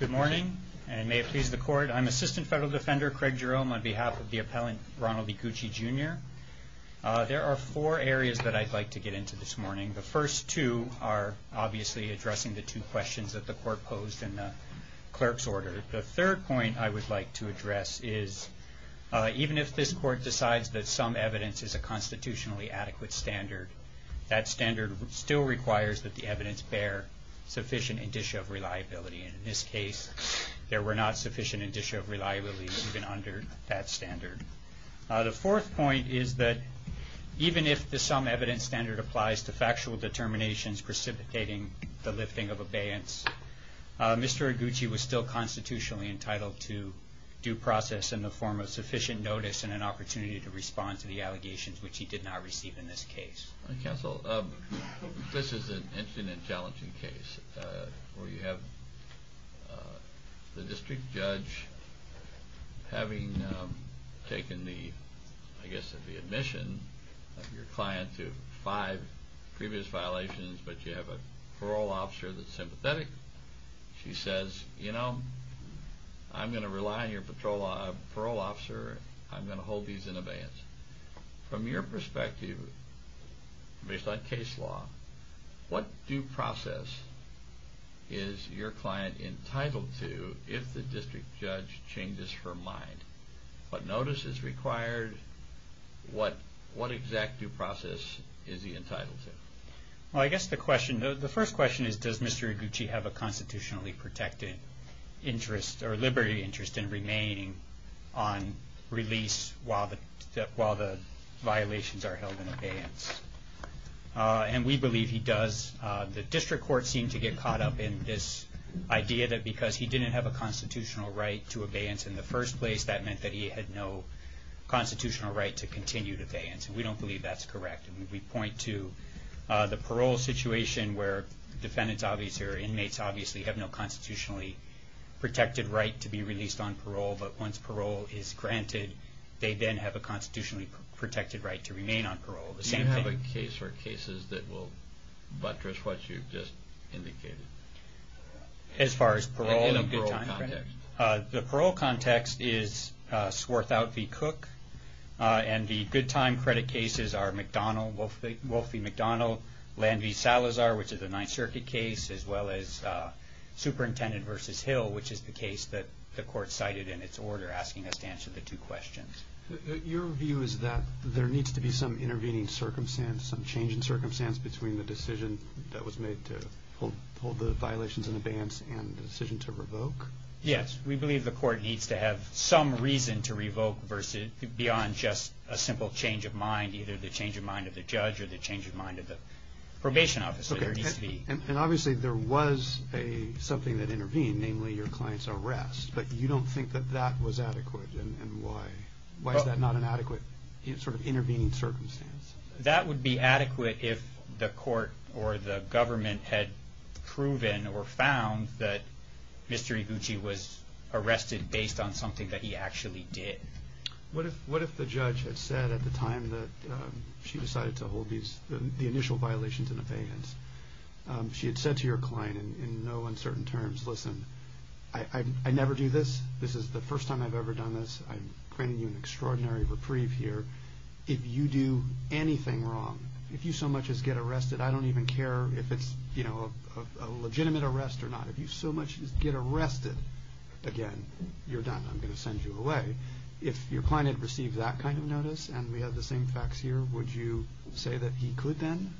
Good morning. And may it please the court, I'm Assistant Federal Defender Craig Jerome on behalf of the appellant Ronald Eguchi, Jr. There are four areas that I'd like to get into this morning. The first two are obviously addressing the two questions that the court posed in the clerk's order. The third point I would like to address is even if this court decides that some evidence is a constitutionally adequate standard, that standard still requires that the evidence bear sufficient indicia of reliability. And in this case, there were not sufficient indicia of reliability even under that standard. The fourth point is that even if the sum evidence standard applies to factual determinations precipitating the lifting of abeyance, Mr. Eguchi was still constitutionally entitled to due process in the form of sufficient notice and an opportunity to respond to the allegations which he did not receive in this case. Counsel, this is an interesting and challenging case where you have the district judge having taken the, I guess, the admission of your client to five previous violations, but you have a parole officer that's sympathetic. She says, you know, I'm going to rely on your parole officer. I'm going to hold these in abeyance. From your perspective, based on case law, what due process is your client entitled to if the district judge changes her mind? What notice is required? What exact due process is he entitled to? Well, I guess the question, the first question is, does Mr. Eguchi have a constitutionally protected interest or liberty interest in remaining on release while the violations are held in abeyance? And we believe he does. The district court seemed to get caught up in this idea that because he didn't have a constitutional right to abeyance in the first place, that meant that he had no constitutional right to continue to abeyance. We don't believe that's correct. We point to the parole situation where defendants, obviously, or inmates obviously have no constitutionally protected right to be released on parole, but once parole is granted, they then have a constitutionally protected right to remain on parole. The same thing. Do you have a case or cases that will buttress what you've just indicated? As far as parole and good time credit? No. Wolfie McDonald, Landy Salazar, which is a Ninth Circuit case, as well as Superintendent versus Hill, which is the case that the court cited in its order, asking us to answer the two questions. Your view is that there needs to be some intervening circumstance, some change in circumstance between the decision that was made to hold the violations in abeyance and the decision to revoke? Yes. We believe the court needs to have some reason to revoke beyond just a simple change of mind, either the change of mind of the judge or the change of mind of the probation officer at DCV. Obviously, there was something that intervened, namely your client's arrest, but you don't think that that was adequate, and why is that not an adequate intervening circumstance? That would be adequate if the court or the government had proven or found that Mr. Iguchi was arrested based on something that he actually did. What if the judge had said at the time that she decided to hold the initial violations in abeyance, she had said to your client in no uncertain terms, listen, I never do this, this is the first time I've ever done this, I'm granting you an extraordinary reprieve here, if you do anything wrong, if you so much as get arrested, I don't even care if it's a legitimate arrest or not, if you so much as get arrested, again, you're done, I'm going to send you away. If your client had received that kind of notice and we have the same facts here, would you say that he could then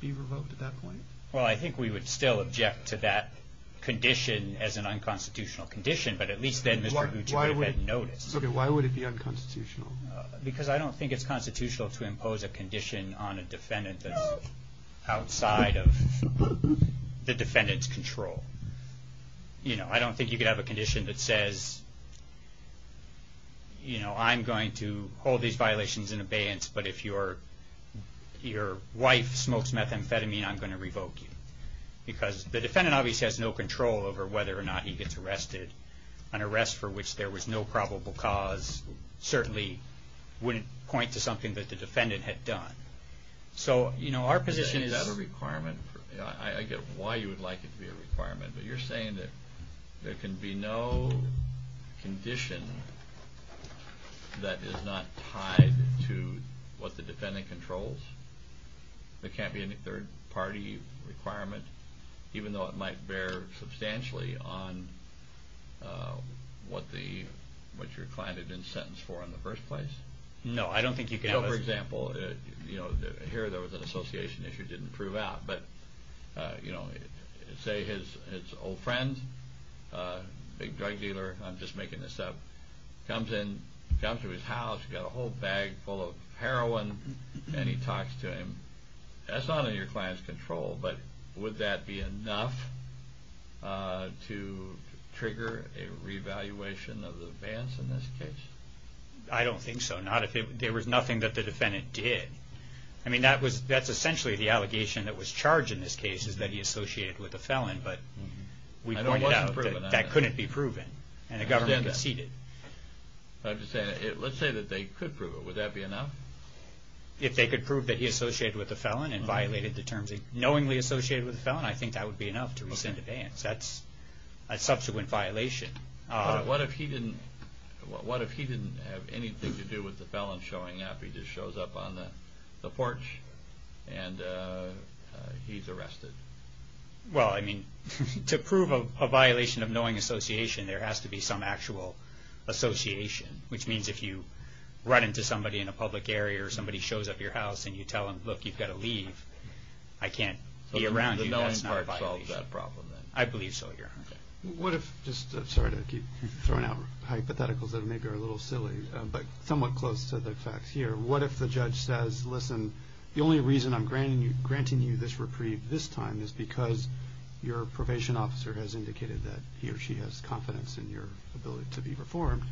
be revoked at that point? Well, I think we would still object to that condition as an unconstitutional condition, but at least then Mr. Iguchi would have had notice. Why would it be unconstitutional? Because I don't think it's constitutional to impose a condition on a defendant that's outside of the defendant's control. You know, I don't think you could have a condition that says, you know, I'm going to hold these violations in abeyance, but if your wife smokes methamphetamine, I'm going to revoke you. Because the defendant obviously has no control over whether or not he gets arrested, an arrest for which there was no probable cause certainly wouldn't point to something that the defendant had done. So, you know, our position is... I get why you would like it to be a requirement, but you're saying that there can be no condition that is not tied to what the defendant controls? There can't be any third-party requirement, even though it might bear substantially on what your client had been sentenced for in the first place? No, I don't think you can have a... For example, you know, here there was an association issue that didn't prove out, but, you know, say his old friend, a big drug dealer, I'm just making this up, comes in, comes to his house, got a whole bag full of heroin, and he talks to him. That's not under your client's control, but would that be enough to trigger a revaluation of the advance in this case? I don't think so. I mean, there was nothing that the defendant did. I mean, that's essentially the allegation that was charged in this case, is that he associated with a felon, but we pointed out that couldn't be proven, and the government conceded. I'm just saying, let's say that they could prove it, would that be enough? If they could prove that he associated with a felon and violated the terms he knowingly associated with a felon, I think that would be enough to rescind advance. That's a subsequent violation. What if he didn't have anything to do with the felon showing up? He just shows up on the porch, and he's arrested? Well, I mean, to prove a violation of knowing association, there has to be some actual association, which means if you run into somebody in a public area, or somebody shows up your house, and you tell them, look, you've got to leave, I can't be around you, that's not a violation. So the knowing part solves that problem, then? I believe so, your honor. I'm sorry to keep throwing out hypotheticals that maybe are a little silly, but somewhat close to the facts here. What if the judge says, listen, the only reason I'm granting you this reprieve this time is because your probation officer has indicated that he or she has confidence in your ability to be reformed.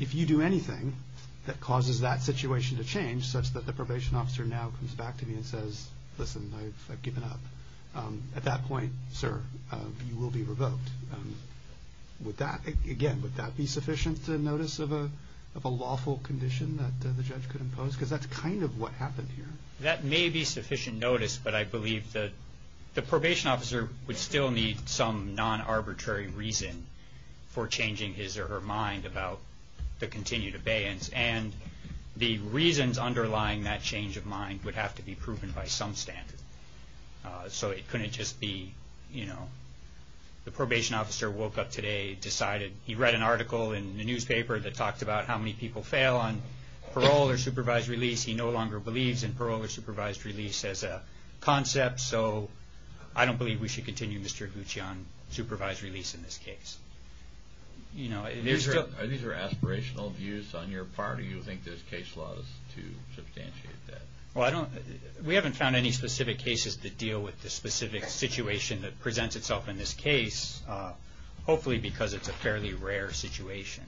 If you do anything that causes that situation to change, such that the probation officer now comes back to me and says, listen, I've given up, at that point, sir, you will be revoked. Would that, again, would that be sufficient to notice of a lawful condition that the judge could impose? Because that's kind of what happened here. That may be sufficient notice, but I believe that the probation officer would still need some non-arbitrary reason for changing his or her mind about the continued abeyance. And the reasons underlying that change of mind would have to be proven by some standard. So it couldn't just be, you know, the probation officer woke up today, decided, he read an article in the newspaper that talked about how many people fail on parole or supervised release. He no longer believes in parole or supervised release as a concept. So I don't believe we should continue Mr. Gucci on supervised release in this case. These are aspirational views on your part, or do you think there's case laws to substantiate that? Well, I don't, we haven't found any specific cases that deal with the specific situation that presents itself in this case, hopefully because it's a fairly rare situation.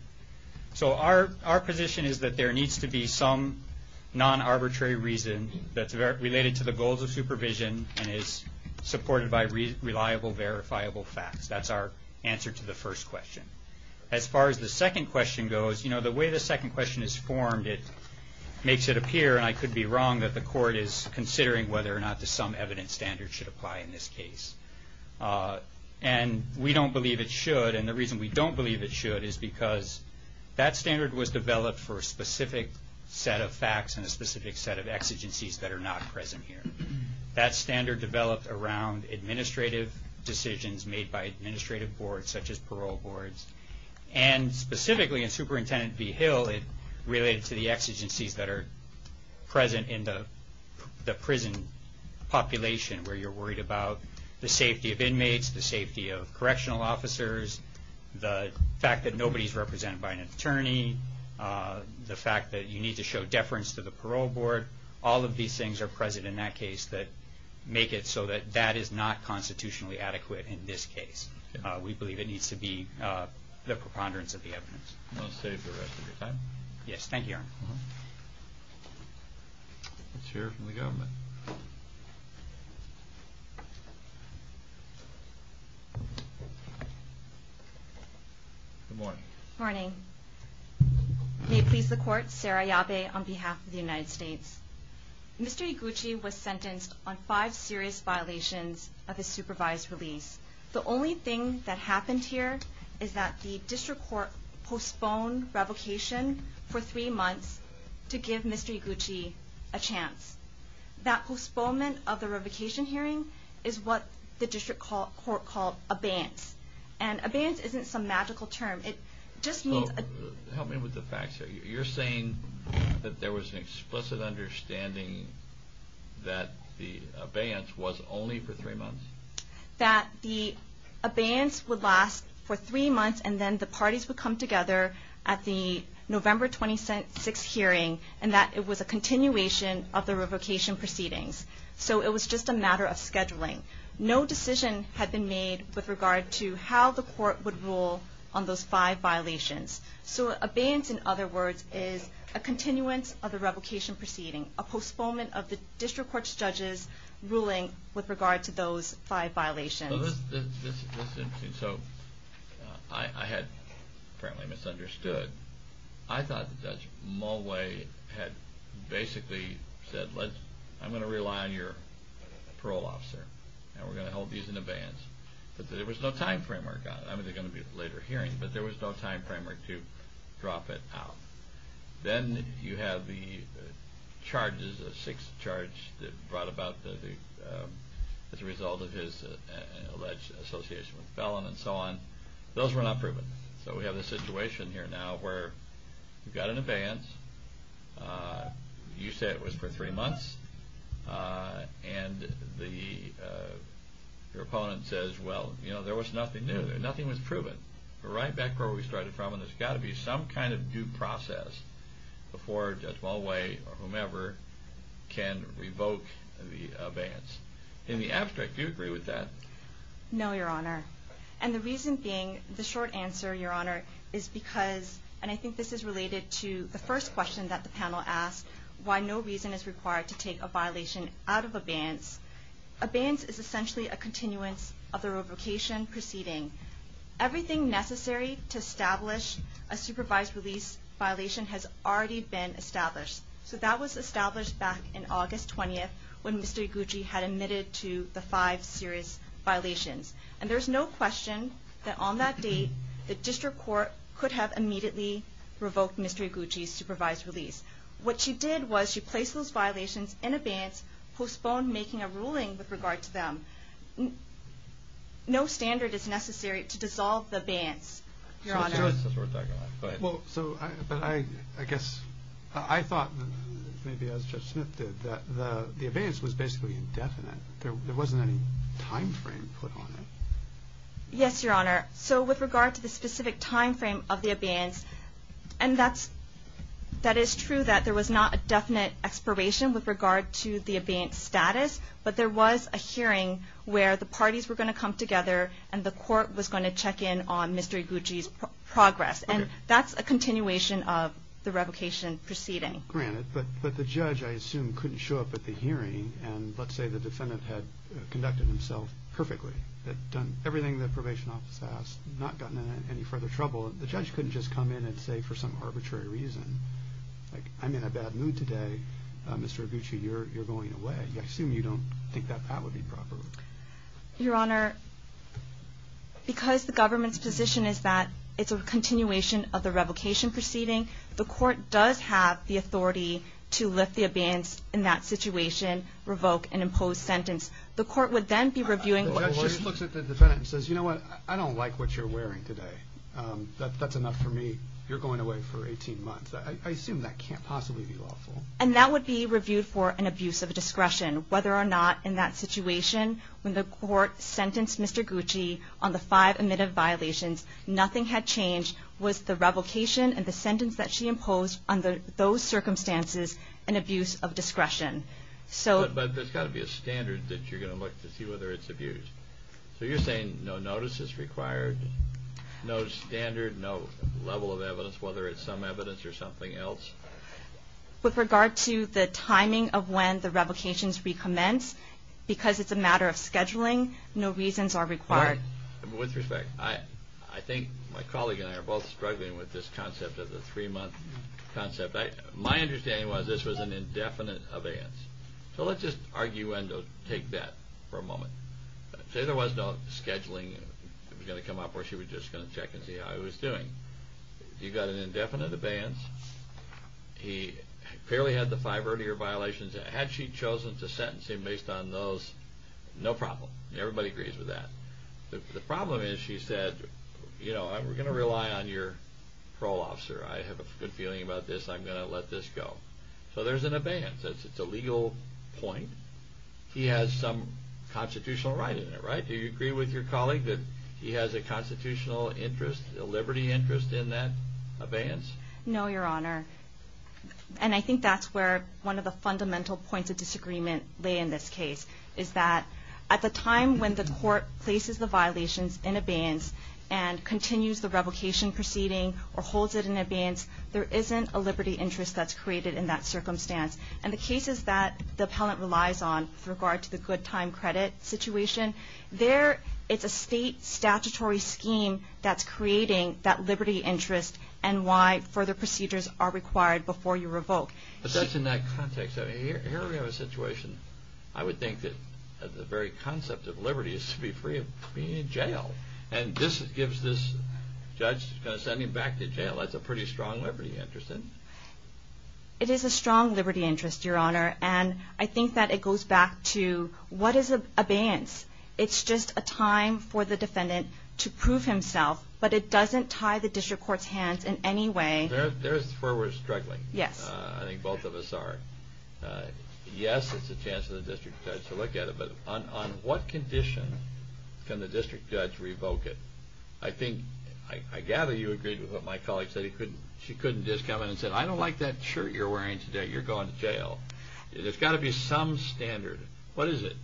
So our position is that there needs to be some non-arbitrary reason that's related to the goals of supervision and is supported by reliable, verifiable facts. That's our answer to the first question. As far as the second question goes, you know, the way the second question is formed, it makes it appear, and I could be wrong, that the court is considering whether or not some evidence standard should apply in this case. And we don't believe it should, and the reason we don't believe it should is because that standard was developed for a specific set of facts and a specific set of exigencies that are not present here. That standard developed around administrative decisions made by administrative boards, such as parole boards, and specifically in Superintendent B. Hill, it related to the exigencies that are present in the prison population, where you're worried about the safety of inmates, the safety of correctional officers, the fact that nobody's represented by an attorney, the fact that you need to show deference to the parole board. All of these things are present in that case that make it so that that is not constitutionally adequate in this case. We believe it needs to be the preponderance of the evidence. I'll save the rest of your time. Yes, thank you, Your Honor. Let's hear it from the government. Good morning. Morning. May it please the Court, Sarah Yabe on behalf of the United States. Mr. Iguchi was sentenced on five serious violations of his supervised release. The only thing that happened here is that the district court postponed revocation for three months to give Mr. Iguchi a chance. That postponement of the revocation hearing is what the district court called abeyance. And abeyance isn't some magical term. It just means... Help me with the facts here. You're saying that there was an explicit understanding that the abeyance was only for three months? That the abeyance would last for three months and then the parties would come together at the November 26th hearing and that it was a continuation of the revocation proceedings. So it was just a matter of scheduling. No decision had been made with regard to how the court would rule on those five violations. So abeyance, in other words, is a continuance of the revocation proceeding, a postponement of the district court's judge's ruling with regard to those five violations. This is interesting. So I had apparently misunderstood. I thought that Judge Mulway had basically said, I'm going to rely on your parole officer and we're going to hold these in abeyance. But there was no time framework on it. I mean, there's going to be a later hearing, but there was no time framework to drop it out. Then you have the charges, the sixth charge that brought about the... as a result of his alleged association with felon and so on. Those were not proven. So we have a situation here now where we've got an abeyance. You say it was for three months. And your opponent says, well, you know, there was nothing new. Nothing was proven. We're right back where we started from and there's got to be some kind of due process before Judge Mulway or whomever can revoke the abeyance. In the abstract, do you agree with that? No, Your Honor. And the reason being, the short answer, Your Honor, is because, and I think this is related to the first question that the panel asked, why no reason is required to take a violation out of abeyance. Abeyance is essentially a continuance of the revocation proceeding. Everything necessary to establish a supervised release violation has already been established. So that was established back in August 20th when Mr. Iguchi had admitted to the five serious violations. And there's no question that on that date, the district court could have immediately revoked Mr. Iguchi's supervised release. What she did was she placed those violations in abeyance, postponed making a ruling with regard to them. No standard is necessary to dissolve the abeyance, Your Honor. But I guess, I thought, maybe as Judge Smith did, that the abeyance was basically indefinite. There wasn't any time frame put on it. Yes, Your Honor. So with regard to the specific time frame of the abeyance, and that is true that there was not a definite expiration with regard to the abeyance status, but there was a hearing where the parties were going to come together and the court was going to check in on Mr. Iguchi's progress. And that's a continuation of the revocation proceeding. And let's say the defendant had conducted himself perfectly, had done everything the probation office asked, not gotten in any further trouble. The judge couldn't just come in and say for some arbitrary reason, like, I'm in a bad mood today, Mr. Iguchi, you're going away. I assume you don't think that that would be proper. Your Honor, because the government's position is that it's a continuation of the revocation proceeding, the court does have the authority to lift the abeyance in that situation, revoke an imposed sentence. The court would then be reviewing. The judge just looks at the defendant and says, you know what, I don't like what you're wearing today. That's enough for me. You're going away for 18 months. I assume that can't possibly be lawful. And that would be reviewed for an abuse of discretion, whether or not in that situation, when the court sentenced Mr. Iguchi on the five admitted violations, nothing had changed was the revocation and the sentence that she imposed under those circumstances an abuse of discretion. But there's got to be a standard that you're going to look to see whether it's abuse. So you're saying no notice is required, no standard, no level of evidence, whether it's some evidence or something else? With regard to the timing of when the revocations recommence, because it's a matter of scheduling, no reasons are required. With respect, I think my colleague and I are both struggling with this concept of the three-month concept. My understanding was this was an indefinite abeyance. So let's just argue when to take that for a moment. Say there was no scheduling that was going to come up where she was just going to check and see how he was doing. You've got an indefinite abeyance. He clearly had the five earlier violations. Had she chosen to sentence him based on those, no problem. Everybody agrees with that. The problem is she said, you know, we're going to rely on your parole officer. I have a good feeling about this. I'm going to let this go. So there's an abeyance. It's a legal point. He has some constitutional right in it, right? Do you agree with your colleague that he has a constitutional interest, a liberty interest in that abeyance? No, Your Honor. And I think that's where one of the fundamental points of disagreement lay in this case is that at the time when the court places the violations in abeyance and continues the revocation proceeding or holds it in abeyance, there isn't a liberty interest that's created in that circumstance. And the cases that the appellant relies on with regard to the good time credit situation, it's a state statutory scheme that's creating that liberty interest and why further procedures are required before you revoke. But that's in that context. So here we have a situation. I would think that the very concept of liberty is to be free of being in jail. And this gives this judge, he's going to send him back to jail. That's a pretty strong liberty interest, isn't it? It is a strong liberty interest, Your Honor. And I think that it goes back to what is abeyance? It's just a time for the defendant to prove himself, but it doesn't tie the district court's hands in any way. There's where we're struggling. I think both of us are. Yes, it's a chance for the district judge to look at it, but on what condition can the district judge revoke it? I gather you agreed with what my colleague said. She couldn't just come in and say, I don't like that shirt you're wearing today, you're going to jail. There's got to be some standard. What is it?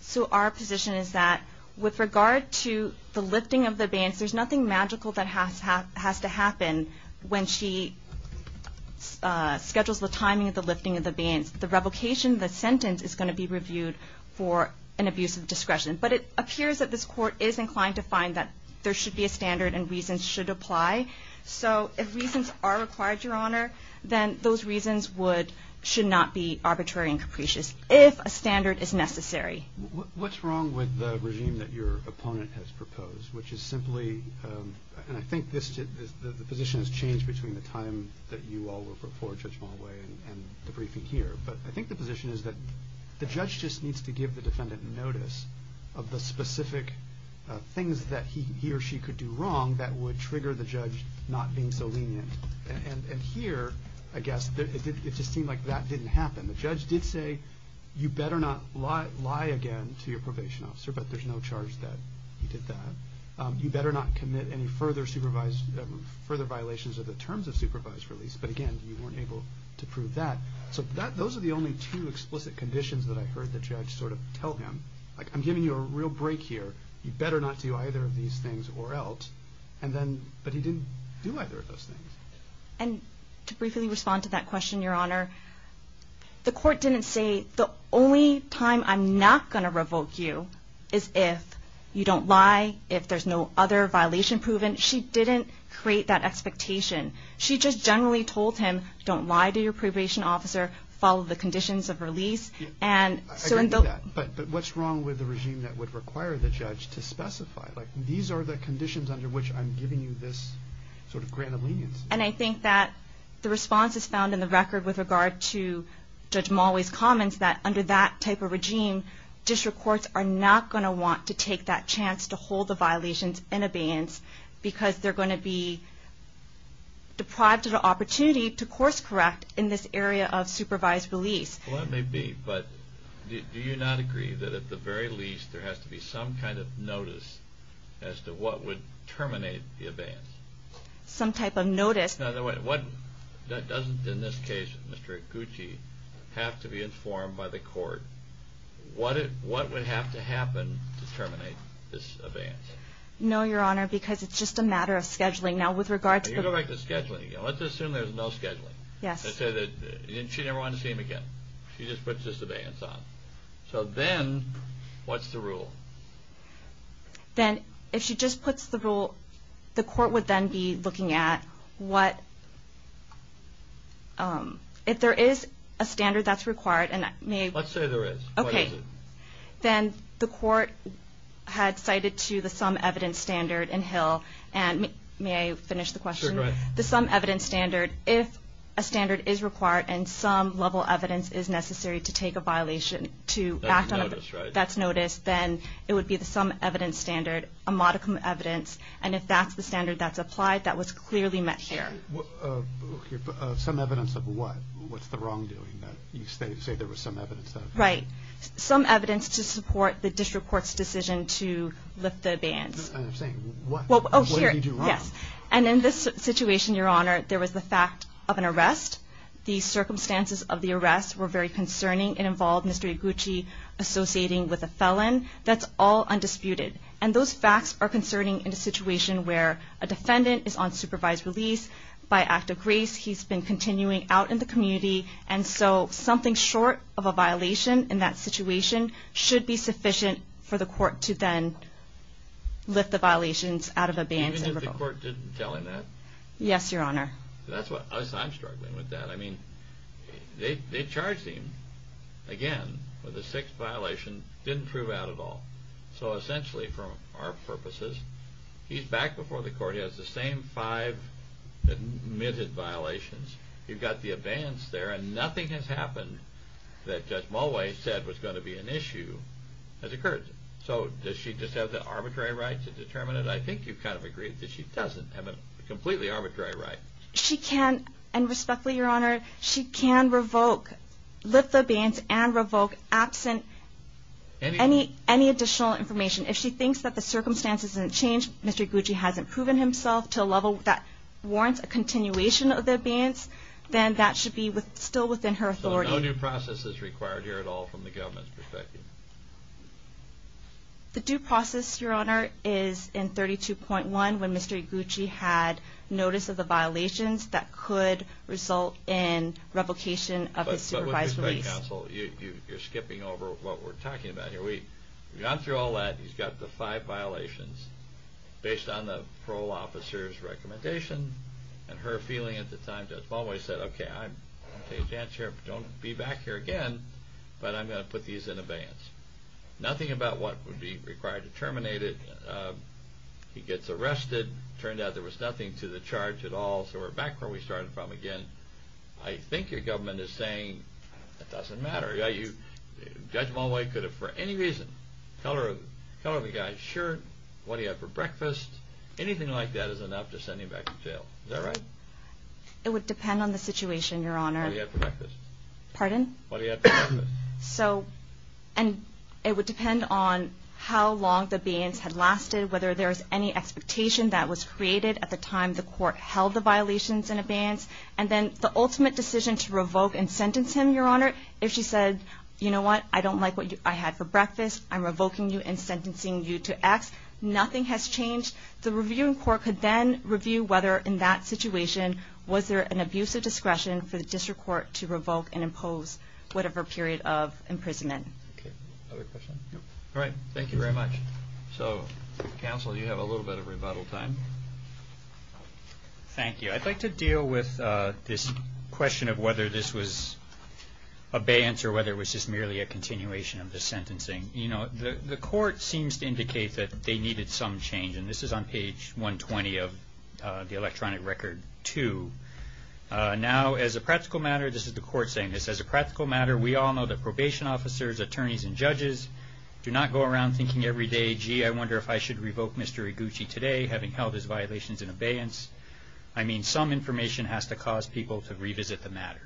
So our position is that with regard to the lifting of abeyance, there's nothing magical that has to happen when she schedules the timing of the lifting of abeyance. The revocation, the sentence is going to be reviewed for an abuse of discretion. But it appears that this court is inclined to find that there should be a standard and reasons should apply. So if reasons are required, Your Honor, then those reasons should not be arbitrary and capricious, if a standard is necessary. What's wrong with the regime that your opponent has proposed? Which is simply, and I think the position has changed between the time that you all were before Judge Mulway and the briefing here. But I think the position is that the judge just needs to give the defendant notice of the specific things that he or she could do wrong that would trigger the judge not being so lenient. And here, I guess, it just seemed like that didn't happen. The judge did say you better not lie again to your probation officer, but there's no charge that he did that. You better not commit any further violations of the terms of supervised release. But again, you weren't able to prove that. So those are the only two explicit conditions that I heard the judge sort of tell him. Like, I'm giving you a real break here. You better not do either of these things or else. But he didn't do either of those things. And to briefly respond to that question, Your Honor, the court didn't say the only time I'm not going to revoke you is if you don't lie, if there's no other violation proven. She didn't create that expectation. She just generally told him, don't lie to your probation officer, follow the conditions of release. But what's wrong with the regime that would require the judge to specify? Like, these are the conditions under which I'm giving you this sort of grant of leniency. And I think that the response is found in the record with regard to Judge Mulway's comments that under that type of regime, district courts are not going to want to take that chance to hold the violations in abeyance because they're going to be deprived of the opportunity to course correct in this area of supervised release. Well, that may be. But do you not agree that at the very least there has to be some kind of notice as to what would terminate the abeyance? Some type of notice. Now, doesn't in this case, Mr. Gucci, have to be informed by the court what would have to happen to terminate this abeyance? No, Your Honor, because it's just a matter of scheduling. Now, with regard to the... You go back to scheduling. Let's assume there's no scheduling. She never wanted to see him again. She just puts this abeyance on. So then, what's the rule? Then, if she just puts the rule, the court would then be looking at what... If there is a standard that's required... Let's say there is. Okay. Then, the court had cited to the sum evidence standard in Hill. May I finish the question? Sure, go ahead. The sum evidence standard, if a standard is required and some level evidence is necessary to take a violation to act on... That's notice, right? That's notice. Then, it would be the sum evidence standard, a modicum of evidence. And if that's the standard that's applied, that was clearly met there. Sure. Some evidence of what? What's the wrongdoing? You say there was some evidence of... Right. Some evidence to support the district court's decision to lift the abeyance. I'm saying, what did you do wrong? Yes. And in this situation, Your Honor, there was the fact of an arrest. The circumstances of the arrest were very concerning and involved Mr. Eguchi associating with a felon. That's all undisputed. And those facts are concerning in a situation where a defendant is on supervised release. By act of grace, he's been continuing out in the community. And so, something short of a violation in that situation should be sufficient for the court to then lift the violations out of abeyance. Even if the court didn't tell him that? Yes, Your Honor. That's what... I'm struggling with that. I mean, they charged him, again, with a sixth violation. Didn't prove out at all. So, essentially, for our purposes, he's back before the court. He has the same five admitted violations. You've got the abeyance there, and nothing has happened that Judge Mulway said was going to be an issue has occurred. So, does she just have the arbitrary right to determine it? I think you've kind of agreed that she doesn't have a completely arbitrary right. She can, and respectfully, Your Honor, she can revoke, lift the abeyance and revoke, absent any additional information. If she thinks that the circumstances didn't change, Mr. Iguchi hasn't proven himself to a level that warrants a continuation of the abeyance, then that should be still within her authority. So, no new process is required here at all from the government's perspective? The due process, Your Honor, is in 32.1, when Mr. Iguchi had notice of the violations that could result in replication of his supervised release. But with respect, counsel, you're skipping over what we're talking about here. We've gone through all that. He's got the five violations based on the parole officer's recommendation and her feeling at the time, Judge Mulway said, okay, I'm going to take a chance here. Don't be back here again, but I'm going to put these in abeyance. Nothing about what would be required to terminate it. He gets arrested. Turned out there was nothing to the charge at all. So, we're back where we started from again. I think your government is saying it doesn't matter. Judge Mulway could have for any reason colored the guy's shirt, what he had for breakfast, anything like that is enough to send him back to jail. Is that right? It would depend on the situation, Your Honor. What he had for breakfast. Pardon? What he had for breakfast. So, and it would depend on how long the abeyance had lasted, whether there was any expectation that was created at the time the court held the violations in abeyance, and then the ultimate decision to revoke and sentence him, Your Honor. If she said, you know what? I don't like what I had for breakfast. I'm revoking you and sentencing you to X. Nothing has changed. The reviewing court could then review whether in that situation was there an abuse of discretion for the district court to revoke and impose whatever period of imprisonment. Okay. Other questions? All right. Thank you very much. So, counsel, you have a little bit of rebuttal time. Thank you. I'd like to deal with this question of whether this was abeyance or whether it was just merely a continuation of the sentencing. You know, the court seems to indicate that they needed some change, and this is on page 120 of the electronic record 2. Now, as a practical matter, this is the court saying this, as a practical matter, we all know that probation officers, attorneys, and judges do not go around thinking every day, gee, I wonder if I should revoke Mr. Iguchi today, having held his violations in abeyance. I mean, some information has to cause people to revisit the matter.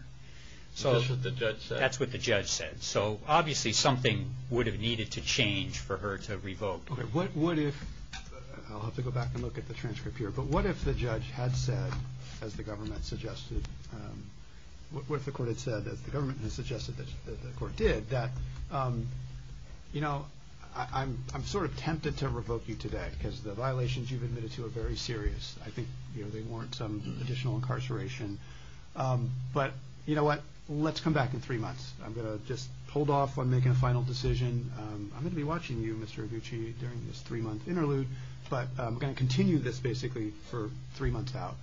So that's what the judge said. That's what the judge said. So, obviously, something would have needed to change for her to revoke. What if, I'll have to go back and look at the transcript here, but what if the judge had said, as the government suggested, what if the court had said, as the government had suggested that the court did, that, you know, I'm sort of tempted to revoke you today because the violations you've admitted to are very serious. I think they warrant some additional incarceration. But, you know what, let's come back in three months. I'm going to just hold off on making a final decision. I'm going to be watching you, Mr. Iguchi, during this three-month interlude, but I'm going to continue this basically for three months out.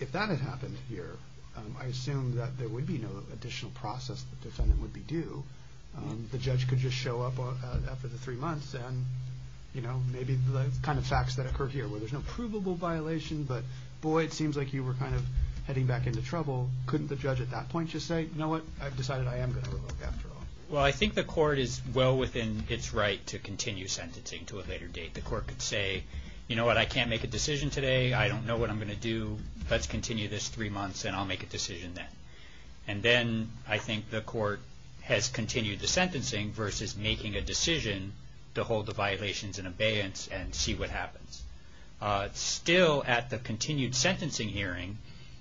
If that had happened here, I assume that there would be no additional process the defendant would be due. The judge could just show up after the three months and, you know, maybe the kind of facts that occur here, where there's no provable violation, but, boy, it seems like you were kind of heading back into trouble. Couldn't the judge at that point just say, you know what, I've decided I am going to revoke after all? Well, I think the court is well within its right to continue sentencing to a later date. The court could say, you know what, I can't make a decision today. I don't know what I'm going to do. Let's continue this three months, and I'll make a decision then. And then I think the court has continued the sentencing versus making a decision to hold the violations in abeyance and see what happens. Still, at the continued sentencing hearing,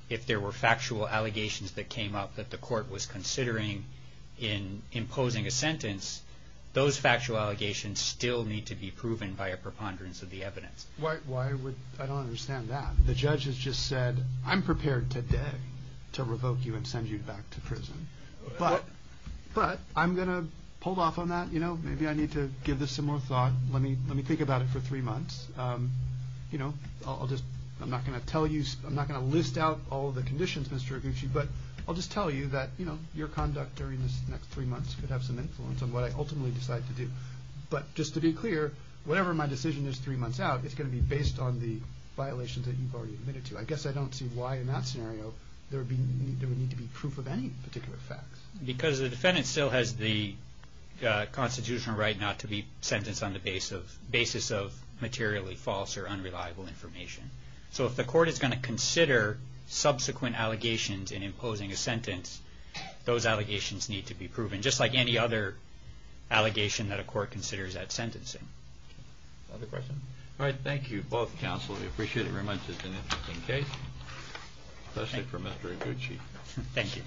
if there were factual allegations that came up that the court was considering in imposing a sentence, those factual allegations still need to be proven by a preponderance of the evidence. Why would – I don't understand that. The judge has just said, I'm prepared today to revoke you and send you back to prison. But I'm going to pull off on that. You know, maybe I need to give this some more thought. Let me think about it for three months. You know, I'll just – I'm not going to tell you – I'm not going to list out all the conditions, Mr. Iguchi, but I'll just tell you that, you know, your conduct during this next three months could have some influence on what I ultimately decide to do. But just to be clear, whatever my decision is three months out, it's going to be based on the violations that you've already admitted to. I guess I don't see why in that scenario there would need to be proof of any particular facts. Because the defendant still has the constitutional right not to be sentenced on the basis of materially false or unreliable information. So if the court is going to consider subsequent allegations in imposing a sentence, those allegations need to be proven, just like any other allegation that a court considers at sentencing. Other questions? All right, thank you both, counsel. We appreciate it very much. It's an interesting case. That's it for Mr. Iguchi. Thank you.